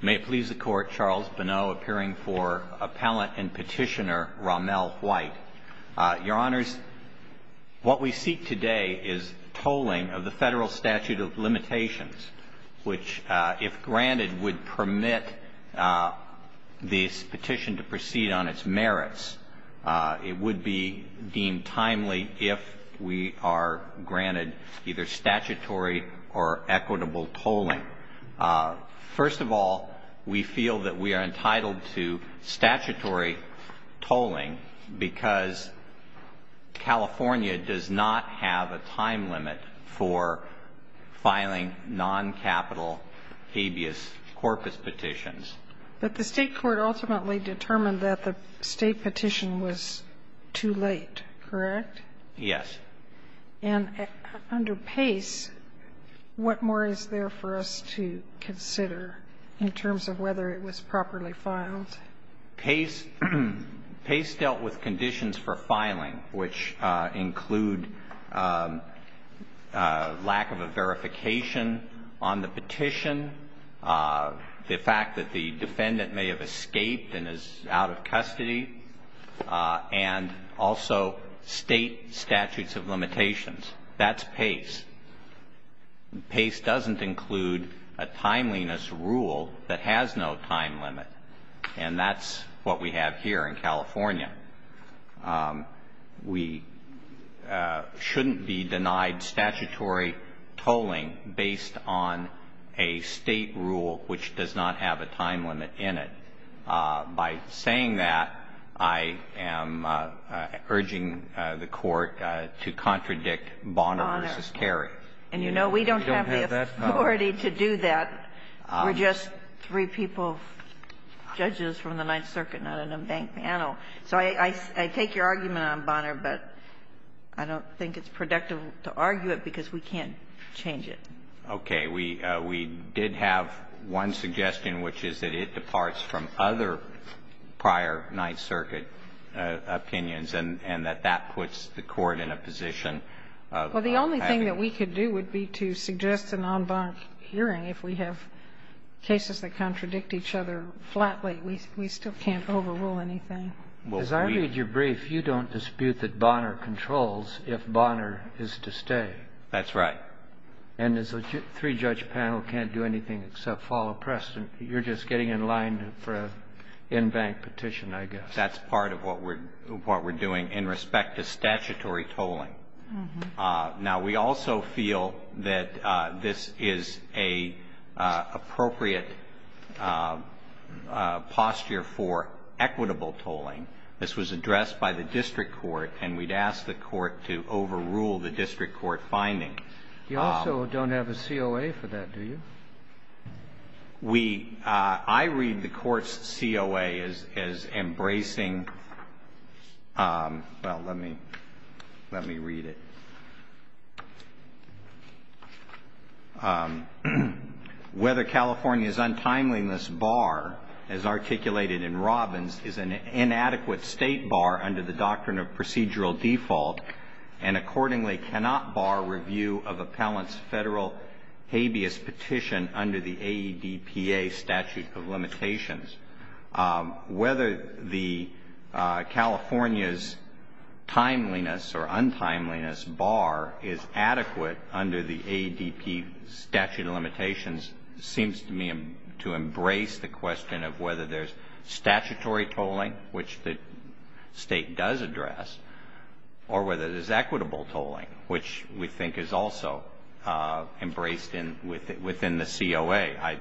May it please the Court, Charles Bonneau appearing for Appellant and Petitioner Romel White. Your Honors, what we seek today is tolling of the Federal Statute of Limitations, which, if granted, would permit this petition to proceed on its merits. It would be deemed timely if we are granted either statutory or equitable tolling. First of all, we feel that we are entitled to statutory tolling because California does not have a time limit for filing non-capital habeas corpus petitions. But the State Court ultimately determined that the State petition was too late, correct? Yes. And under Pace, what more is there for us to consider in terms of whether it was properly filed? Pace dealt with conditions for filing, which include lack of a verification on the petition, the fact that the defendant may have escaped and is out of custody, and also State statutes of limitations. That's Pace. Pace doesn't include a timeliness rule that has no time limit. And that's what we have here in California. We shouldn't be denied statutory tolling based on a State rule which does not have a time limit in it. By saying that, I am urging the Court to contradict Bonner v. Carey. And you know we don't have the authority to do that. We're just three people, judges from the Ninth Circuit, not in a bank panel. So I take your argument on Bonner, but I don't think it's productive to argue it because we can't change it. Okay. We did have one suggestion, which is that it departs from other prior Ninth Circuit opinions, and that that puts the Court in a position of having to do that. Well, the only thing that we could do would be to suggest a non-bank hearing. If we have cases that contradict each other flatly, we still can't overrule anything. As I read your brief, you don't dispute that Bonner controls if Bonner is to stay. That's right. And as a three-judge panel can't do anything except follow precedent. You're just getting in line for an in-bank petition, I guess. That's part of what we're doing in respect to statutory tolling. Now, we also feel that this is an appropriate posture for equitable tolling. This was addressed by the district court, and we'd ask the court to overrule the district court finding. You also don't have a COA for that, do you? We – I read the court's COA as embracing – well, let me read it. Whether California's untimeliness bar, as articulated in Robbins, is an inadequate state bar under the doctrine of procedural default and accordingly cannot bar review of appellant's federal habeas petition under the AEDPA statute of limitations, whether California's timeliness or untimeliness bar is adequate under the AEDPA statute of limitations seems to me to embrace the question of whether there's statutory tolling, which the state does address, or whether there's equitable tolling, which we think is also embraced within the COA.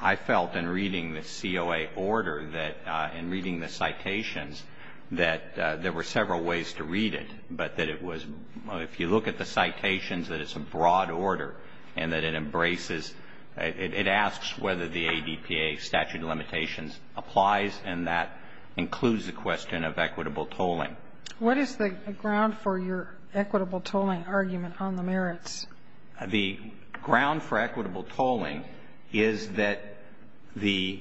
I felt in reading the COA order that – in reading the citations that there were several ways to read it, but that it was – if you look at the citations, that it's a broad order and that it embraces – it asks whether the AEDPA statute of limitations applies, and that includes the question of equitable tolling. What is the ground for your equitable tolling argument on the merits? The ground for equitable tolling is that the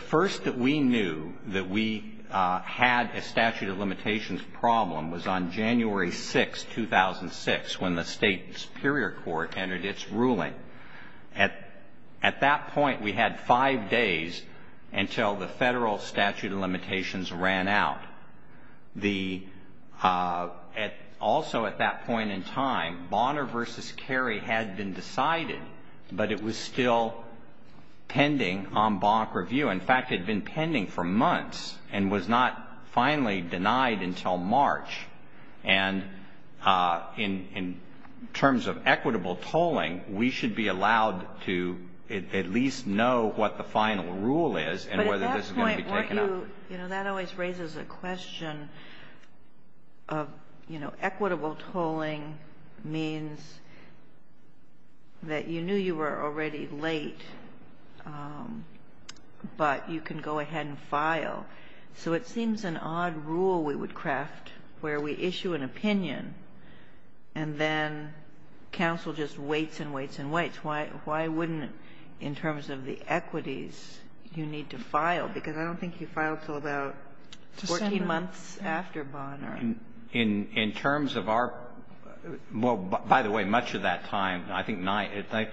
first that we knew that we had a statute of limitations problem was on January 6, 2006, when the state superior court entered its ruling. At that point, we had five days until the federal statute of limitations ran out. Also at that point in time, Bonner v. Cary had been decided, but it was still pending on bonk review. In fact, it had been pending for months and was not finally denied until March. And in terms of equitable tolling, we should be allowed to at least know what the final rule is and whether this is going to be taken up. But at that point, weren't you – you know, that always raises a question of, you know, equitable tolling means that you knew you were already late, but you can go ahead and file. So it seems an odd rule we would craft where we issue an opinion and then counsel just waits and waits and waits. Why wouldn't, in terms of the equities, you need to file? Because I don't think you filed until about 14 months after Bonner. In terms of our – well, by the way, much of that time, I think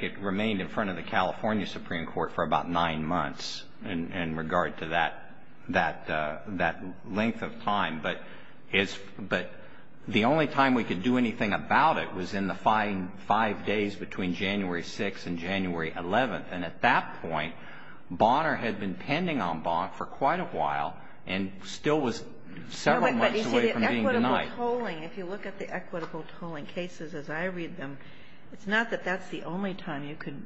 it remained in front of the California Supreme Court for about nine months in regard to that length of time. But the only time we could do anything about it was in the five days between January 6th and January 11th. And at that point, Bonner had been pending on bonk for quite a while and still was several months away from being denied. But, you see, the equitable tolling, if you look at the equitable tolling cases as I read them, it's not that that's the only time you could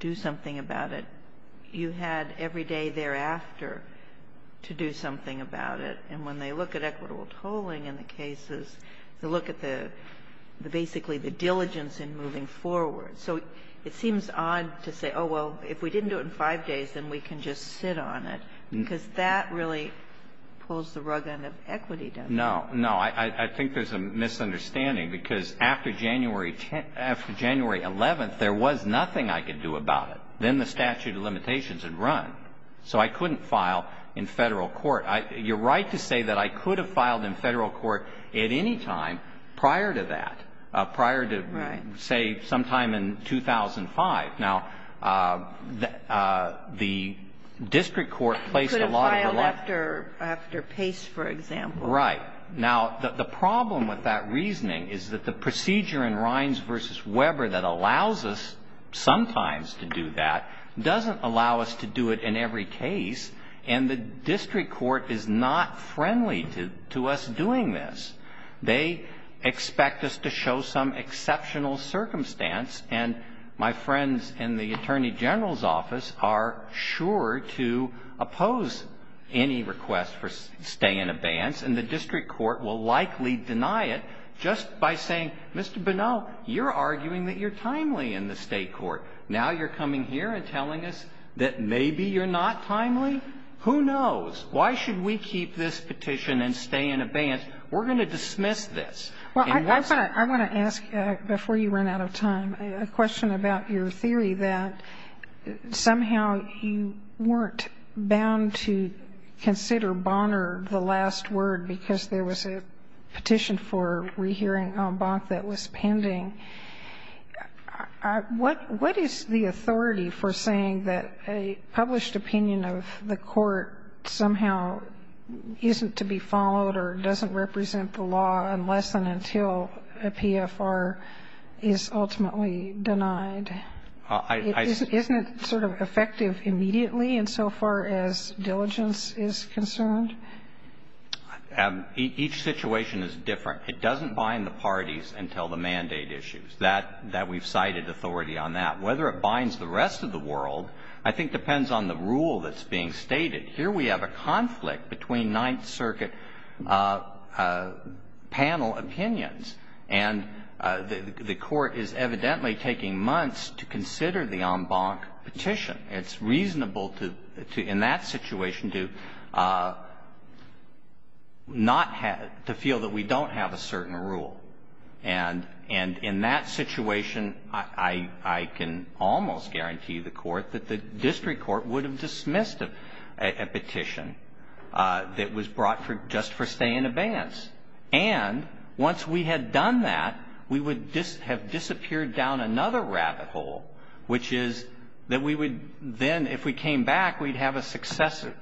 do something about it. You had every day thereafter to do something about it. And when they look at equitable tolling in the cases, they look at the – basically the diligence in moving forward. So it seems odd to say, oh, well, if we didn't do it in five days, then we can just sit on it, because that really pulls the rug out of equity, doesn't it? No. No. I think there's a misunderstanding, because after January – after January 11th, there was nothing I could do about it. Then the statute of limitations had run. So I couldn't file in Federal court. You're right to say that I could have filed in Federal court at any time prior to that, prior to, say, sometime in 2005. Now, the district court placed a lot of the – You could have filed after Pace, for example. Right. Now, the problem with that reasoning is that the procedure in Rines v. Weber that allows us sometimes to do that doesn't allow us to do it in every case, and the district court is not friendly to us doing this. They expect us to show some exceptional circumstance, and my friends in the Attorney General's office are sure to oppose any request for stay in abeyance, and the district court will likely deny it just by saying, Mr. Bonneau, you're arguing that you're timely in the state court. Now you're coming here and telling us that maybe you're not timely? Who knows? Why should we keep this petition and stay in abeyance? We're going to dismiss this. Well, I want to ask, before you run out of time, a question about your theory that somehow you weren't bound to consider Bonner the last word because there was a petition for rehearing Bonk that was pending. What is the authority for saying that a published opinion of the court somehow isn't to be followed or doesn't represent the law unless and until a PFR is ultimately denied? And isn't it sort of effective immediately insofar as diligence is concerned? Each situation is different. It doesn't bind the parties until the mandate issues. That we've cited authority on that. Whether it binds the rest of the world I think depends on the rule that's being stated. Here we have a conflict between Ninth Circuit panel opinions, and the court is evidently taking months to consider the en banc petition. It's reasonable in that situation to feel that we don't have a certain rule. And in that situation, I can almost guarantee the court that the district court would have dismissed a petition that was brought just for stay in abeyance. And once we had done that, we would have disappeared down another rabbit hole, which is that we would then, if we came back, we'd have a successive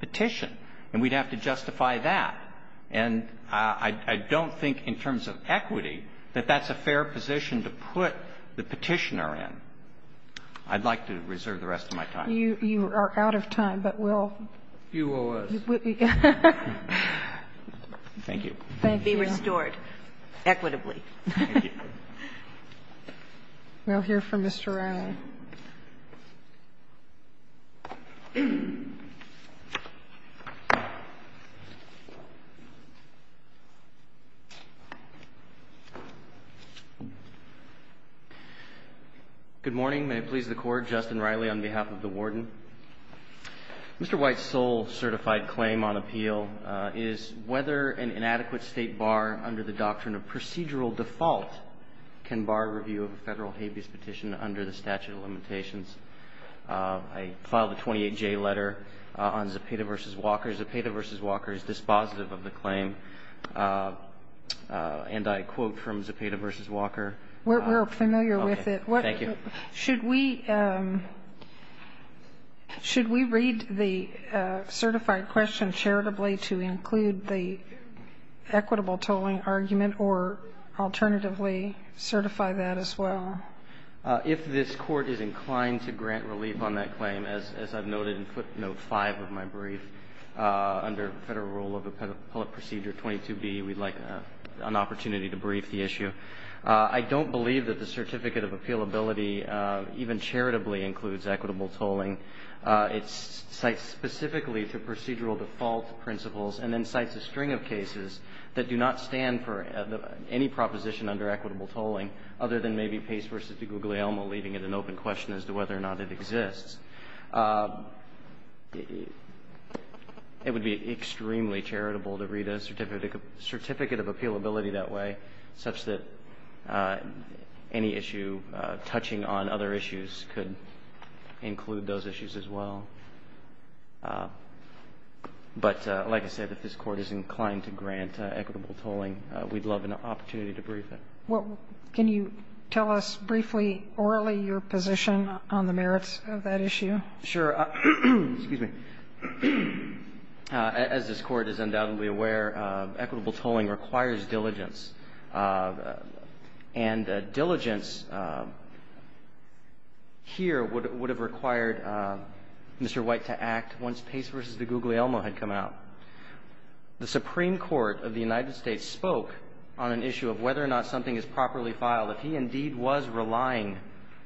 petition. And we'd have to justify that. And I don't think in terms of equity that that's a fair position to put the petitioner in. I'd like to reserve the rest of my time. You are out of time, but we'll... You owe us. Thank you. Thank you. Be restored equitably. Thank you. We'll hear from Mr. Riley. Good morning. May it please the Court. Justin Riley on behalf of the Warden. Mr. White's sole certified claim on appeal is whether an inadequate State bar under the doctrine of procedural default can bar review of a Federal habeas petition under the statute of limitations. I filed a 28J letter on Zepeda v. Walker. Zepeda v. Walker is dispositive of the claim. And I quote from Zepeda v. Walker. We're familiar with it. Thank you. Should we read the certified question charitably to include the equitable tolling argument or alternatively certify that as well? If this Court is inclined to grant relief on that claim, as I've noted in footnote 5 of my brief, under Federal rule of appellate procedure 22B, we'd like an opportunity to brief the issue. I don't believe that the certificate of appealability even charitably includes equitable tolling. It cites specifically to procedural default principles and then cites a string of cases that do not stand for any proposition under equitable tolling other than maybe Pace v. DeGuglielmo, leaving it an open question as to whether or not it exists. It would be extremely charitable to read a certificate of appealability that way, such that any issue touching on other issues could include those issues as well. But like I said, if this Court is inclined to grant equitable tolling, we'd love an opportunity to brief it. Well, can you tell us briefly orally your position on the merits of that issue? Sure. Excuse me. As this Court is undoubtedly aware, equitable tolling requires diligence. And diligence here would have required Mr. White to act once Pace v. DeGuglielmo had come out. The Supreme Court of the United States spoke on an issue of whether or not something is properly filed. If he indeed was relying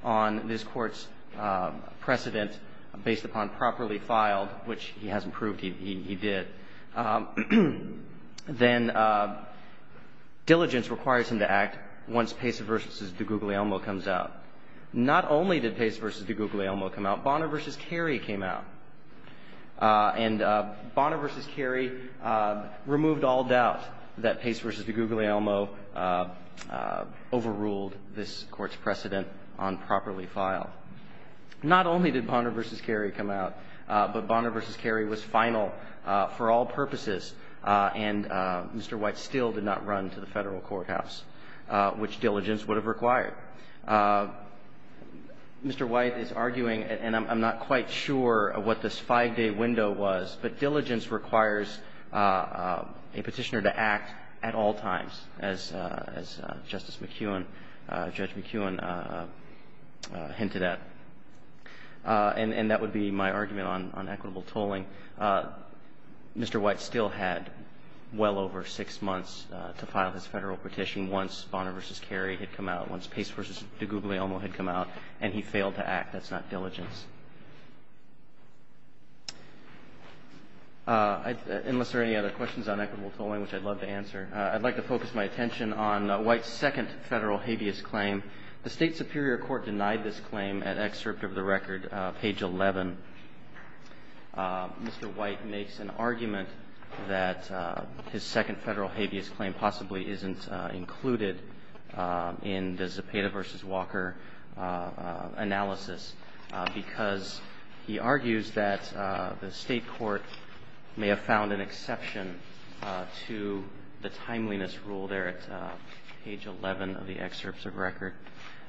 on this Court's precedent based upon properly filed, which he hasn't proved he did, then diligence requires him to act once Pace v. DeGuglielmo comes out. Not only did Pace v. DeGuglielmo come out. Bonner v. Cary came out. And Bonner v. Cary removed all doubt that Pace v. DeGuglielmo overruled this Court's precedent on properly filed. Not only did Bonner v. Cary come out, but Bonner v. Cary was final for all purposes, and Mr. White still did not run to the Federal Courthouse, which diligence would have required. Mr. White is arguing, and I'm not quite sure what this five-day window was, but diligence requires a Petitioner to act at all times, as Justice McEwen, Judge McEwen hinted at. And that would be my argument on equitable tolling. Mr. White still had well over six months to file this Federal petition once Bonner v. Cary had come out, once Pace v. DeGuglielmo had come out, and he failed to act. That's not diligence. Unless there are any other questions on equitable tolling, which I'd love to answer, I'd like to focus my attention on White's second Federal habeas claim. The State Superior Court denied this claim at excerpt of the record, page 11. Mr. White makes an argument that his second Federal habeas claim possibly isn't included in the Zepeda v. Walker analysis because he argues that the State court may have found an exception to the timeliness rule there at page 11 of the excerpts of record.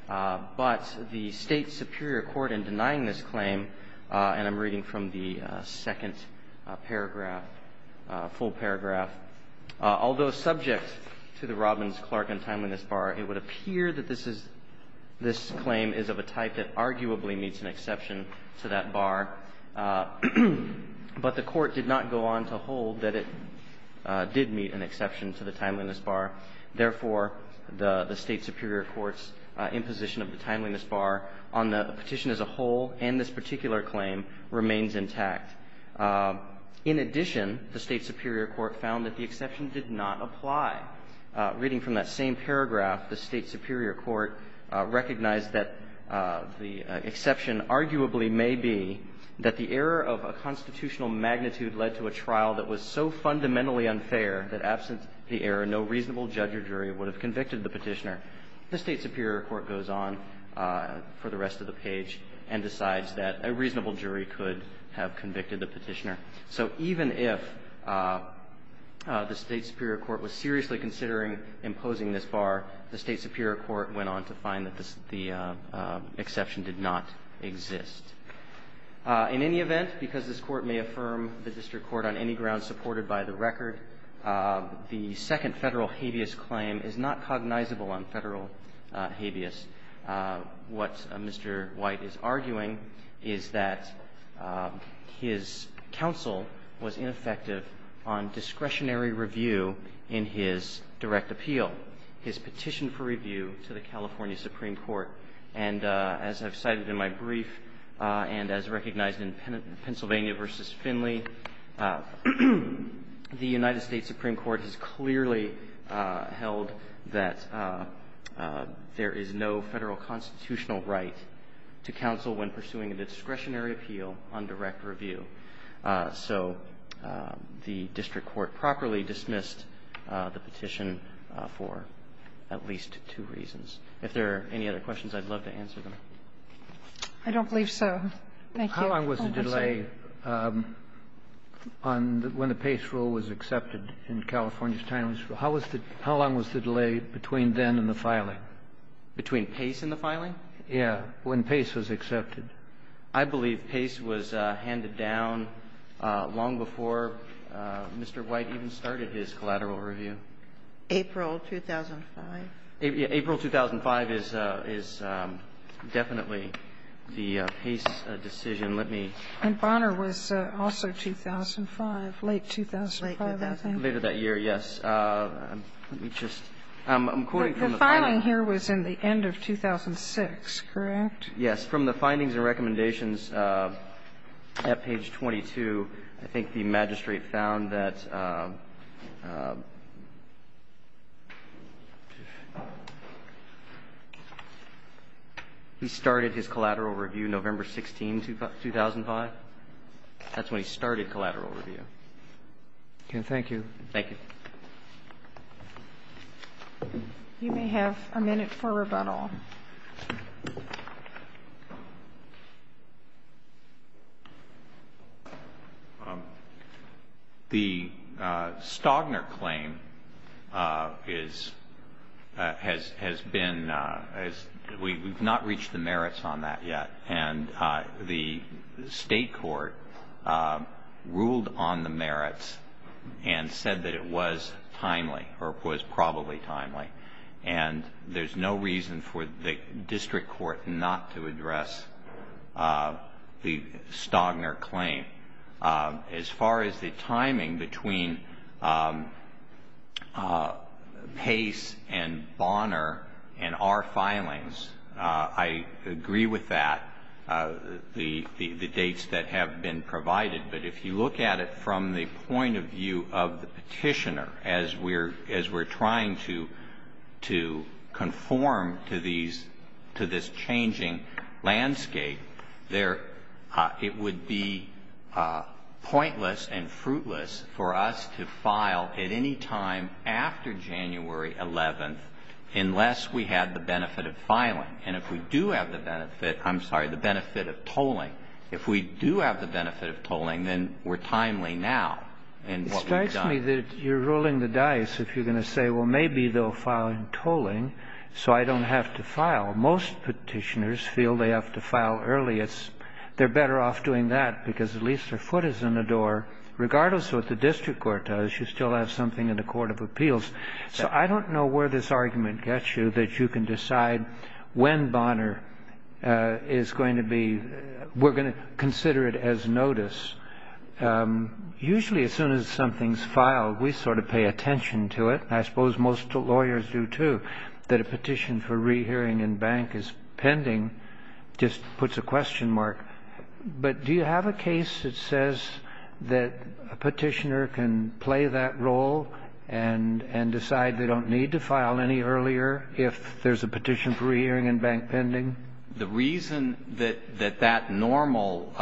But the State Superior Court, in denying this claim, and I'm reading from the second paragraph, full paragraph, although subject to the Robbins, Clark, and Timeliness Bar, it would appear that this is this claim is of a type that arguably meets an exception to that bar, but the Court did not go on to hold that it did meet an exception to the Timeliness Bar. Therefore, the State Superior Court's imposition of the Timeliness Bar on the petition as a whole and this particular claim remains intact. In addition, the State Superior Court found that the exception did not apply. Reading from that same paragraph, the State Superior Court recognized that the exception arguably may be that the error of a constitutional magnitude led to a trial that was so fundamentally unfair that, absent the error, no reasonable judge or jury would have convicted the petitioner. The State Superior Court goes on for the rest of the page and decides that a reasonable jury could have convicted the petitioner. So even if the State Superior Court was seriously considering imposing this bar, the State Superior Court went on to find that the exception did not exist. In any event, because this Court may affirm the district court on any ground supported by the record, the second Federal habeas claim is not cognizable on Federal habeas. What Mr. White is arguing is that his counsel was ineffective on discretionary review in his direct appeal, his petition for review to the California Supreme Court. And as I've cited in my brief and as recognized in Pennsylvania v. Finley, the Supreme Court has clearly held that there is no Federal constitutional right to counsel when pursuing a discretionary appeal on direct review. So the district court properly dismissed the petition for at least two reasons. If there are any other questions, I'd love to answer them. I don't believe so. Thank you. How long was the delay on the – when the Pace rule was accepted in California's time? How long was the delay between then and the filing? Between Pace and the filing? Yeah, when Pace was accepted. I believe Pace was handed down long before Mr. White even started his collateral review. April 2005. April 2005 is definitely the Pace decision. Let me – And Bonner was also 2005, late 2005, I think. Later that year, yes. Let me just – I'm quoting from the – The filing here was in the end of 2006, correct? Yes. From the findings and recommendations at page 22, I think the magistrate found that he started his collateral review November 16, 2005. That's when he started collateral review. Okay. Thank you. Thank you. You may have a minute for rebuttal. The Stagner claim is – has been – we've not reached the merits on that yet. And the state court ruled on the merits and said that it was timely, or it was probably timely. district court not to address the Stagner claim. As far as the timing between Pace and Bonner and our filings, I agree with that, the dates that have been provided. But if you look at it from the point of view of the petitioner, as we're trying to conform to these – to this changing landscape, there – it would be pointless and fruitless for us to file at any time after January 11th unless we had the benefit of filing. And if we do have the benefit – I'm sorry, the benefit of tolling. If we do have the benefit of tolling, then we're timely now in what we've done. You're telling me that you're rolling the dice if you're going to say, well, maybe they'll file in tolling so I don't have to file. Most petitioners feel they have to file early. It's – they're better off doing that because at least their foot is in the door. Regardless of what the district court does, you still have something in the court of appeals. So I don't know where this argument gets you that you can decide when Bonner is going to be – we're going to consider it as notice. Usually as soon as something's filed, we sort of pay attention to it. I suppose most lawyers do, too. That a petition for rehearing in bank is pending just puts a question mark. But do you have a case that says that a petitioner can play that role and decide they don't need to file any earlier if there's a petition for rehearing in bank pending? The reason that that normal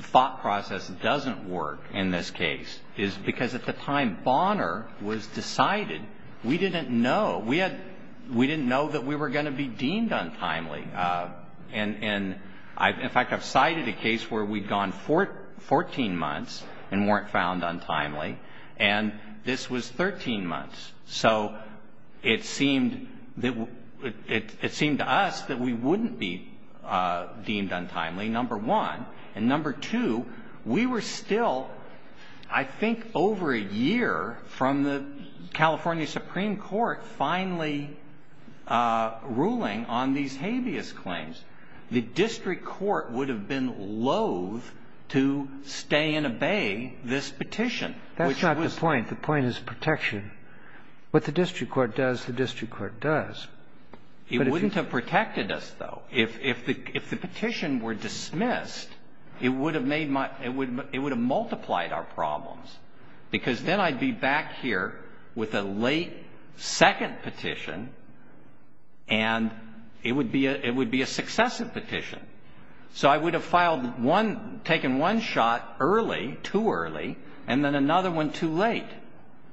thought process doesn't work in this case is because at the time Bonner was decided, we didn't know. We had – we didn't know that we were going to be deemed untimely. And, in fact, I've cited a case where we'd gone 14 months and weren't found untimely. And this was 13 months. So it seemed that – it seemed to us that we wouldn't be deemed untimely, number one. And, number two, we were still, I think, over a year from the California Supreme Court finally ruling on these habeas claims. The district court would have been loathe to stay and obey this petition. That's not the point. The point is protection. What the district court does, the district court does. But if you – It wouldn't have protected us, though. If the petition were dismissed, it would have made my – it would have multiplied our problems, because then I'd be back here with a late second petition, and it would be a – it would be a successive petition. So I would have filed one – taken one shot early, too early, and then another one too late.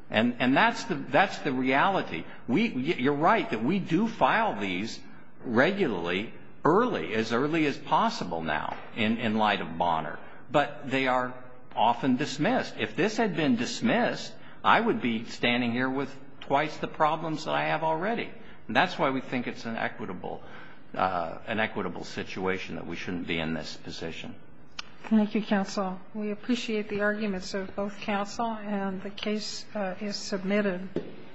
And that's the – that's the reality. We – you're right that we do file these regularly early, as early as possible now in light of Bonner. But they are often dismissed. If this had been dismissed, I would be standing here with twice the problems that I have already. And that's why we think it's an equitable – an equitable situation that we shouldn't be in this position. Thank you, counsel. We appreciate the arguments of both counsel, and the case is submitted.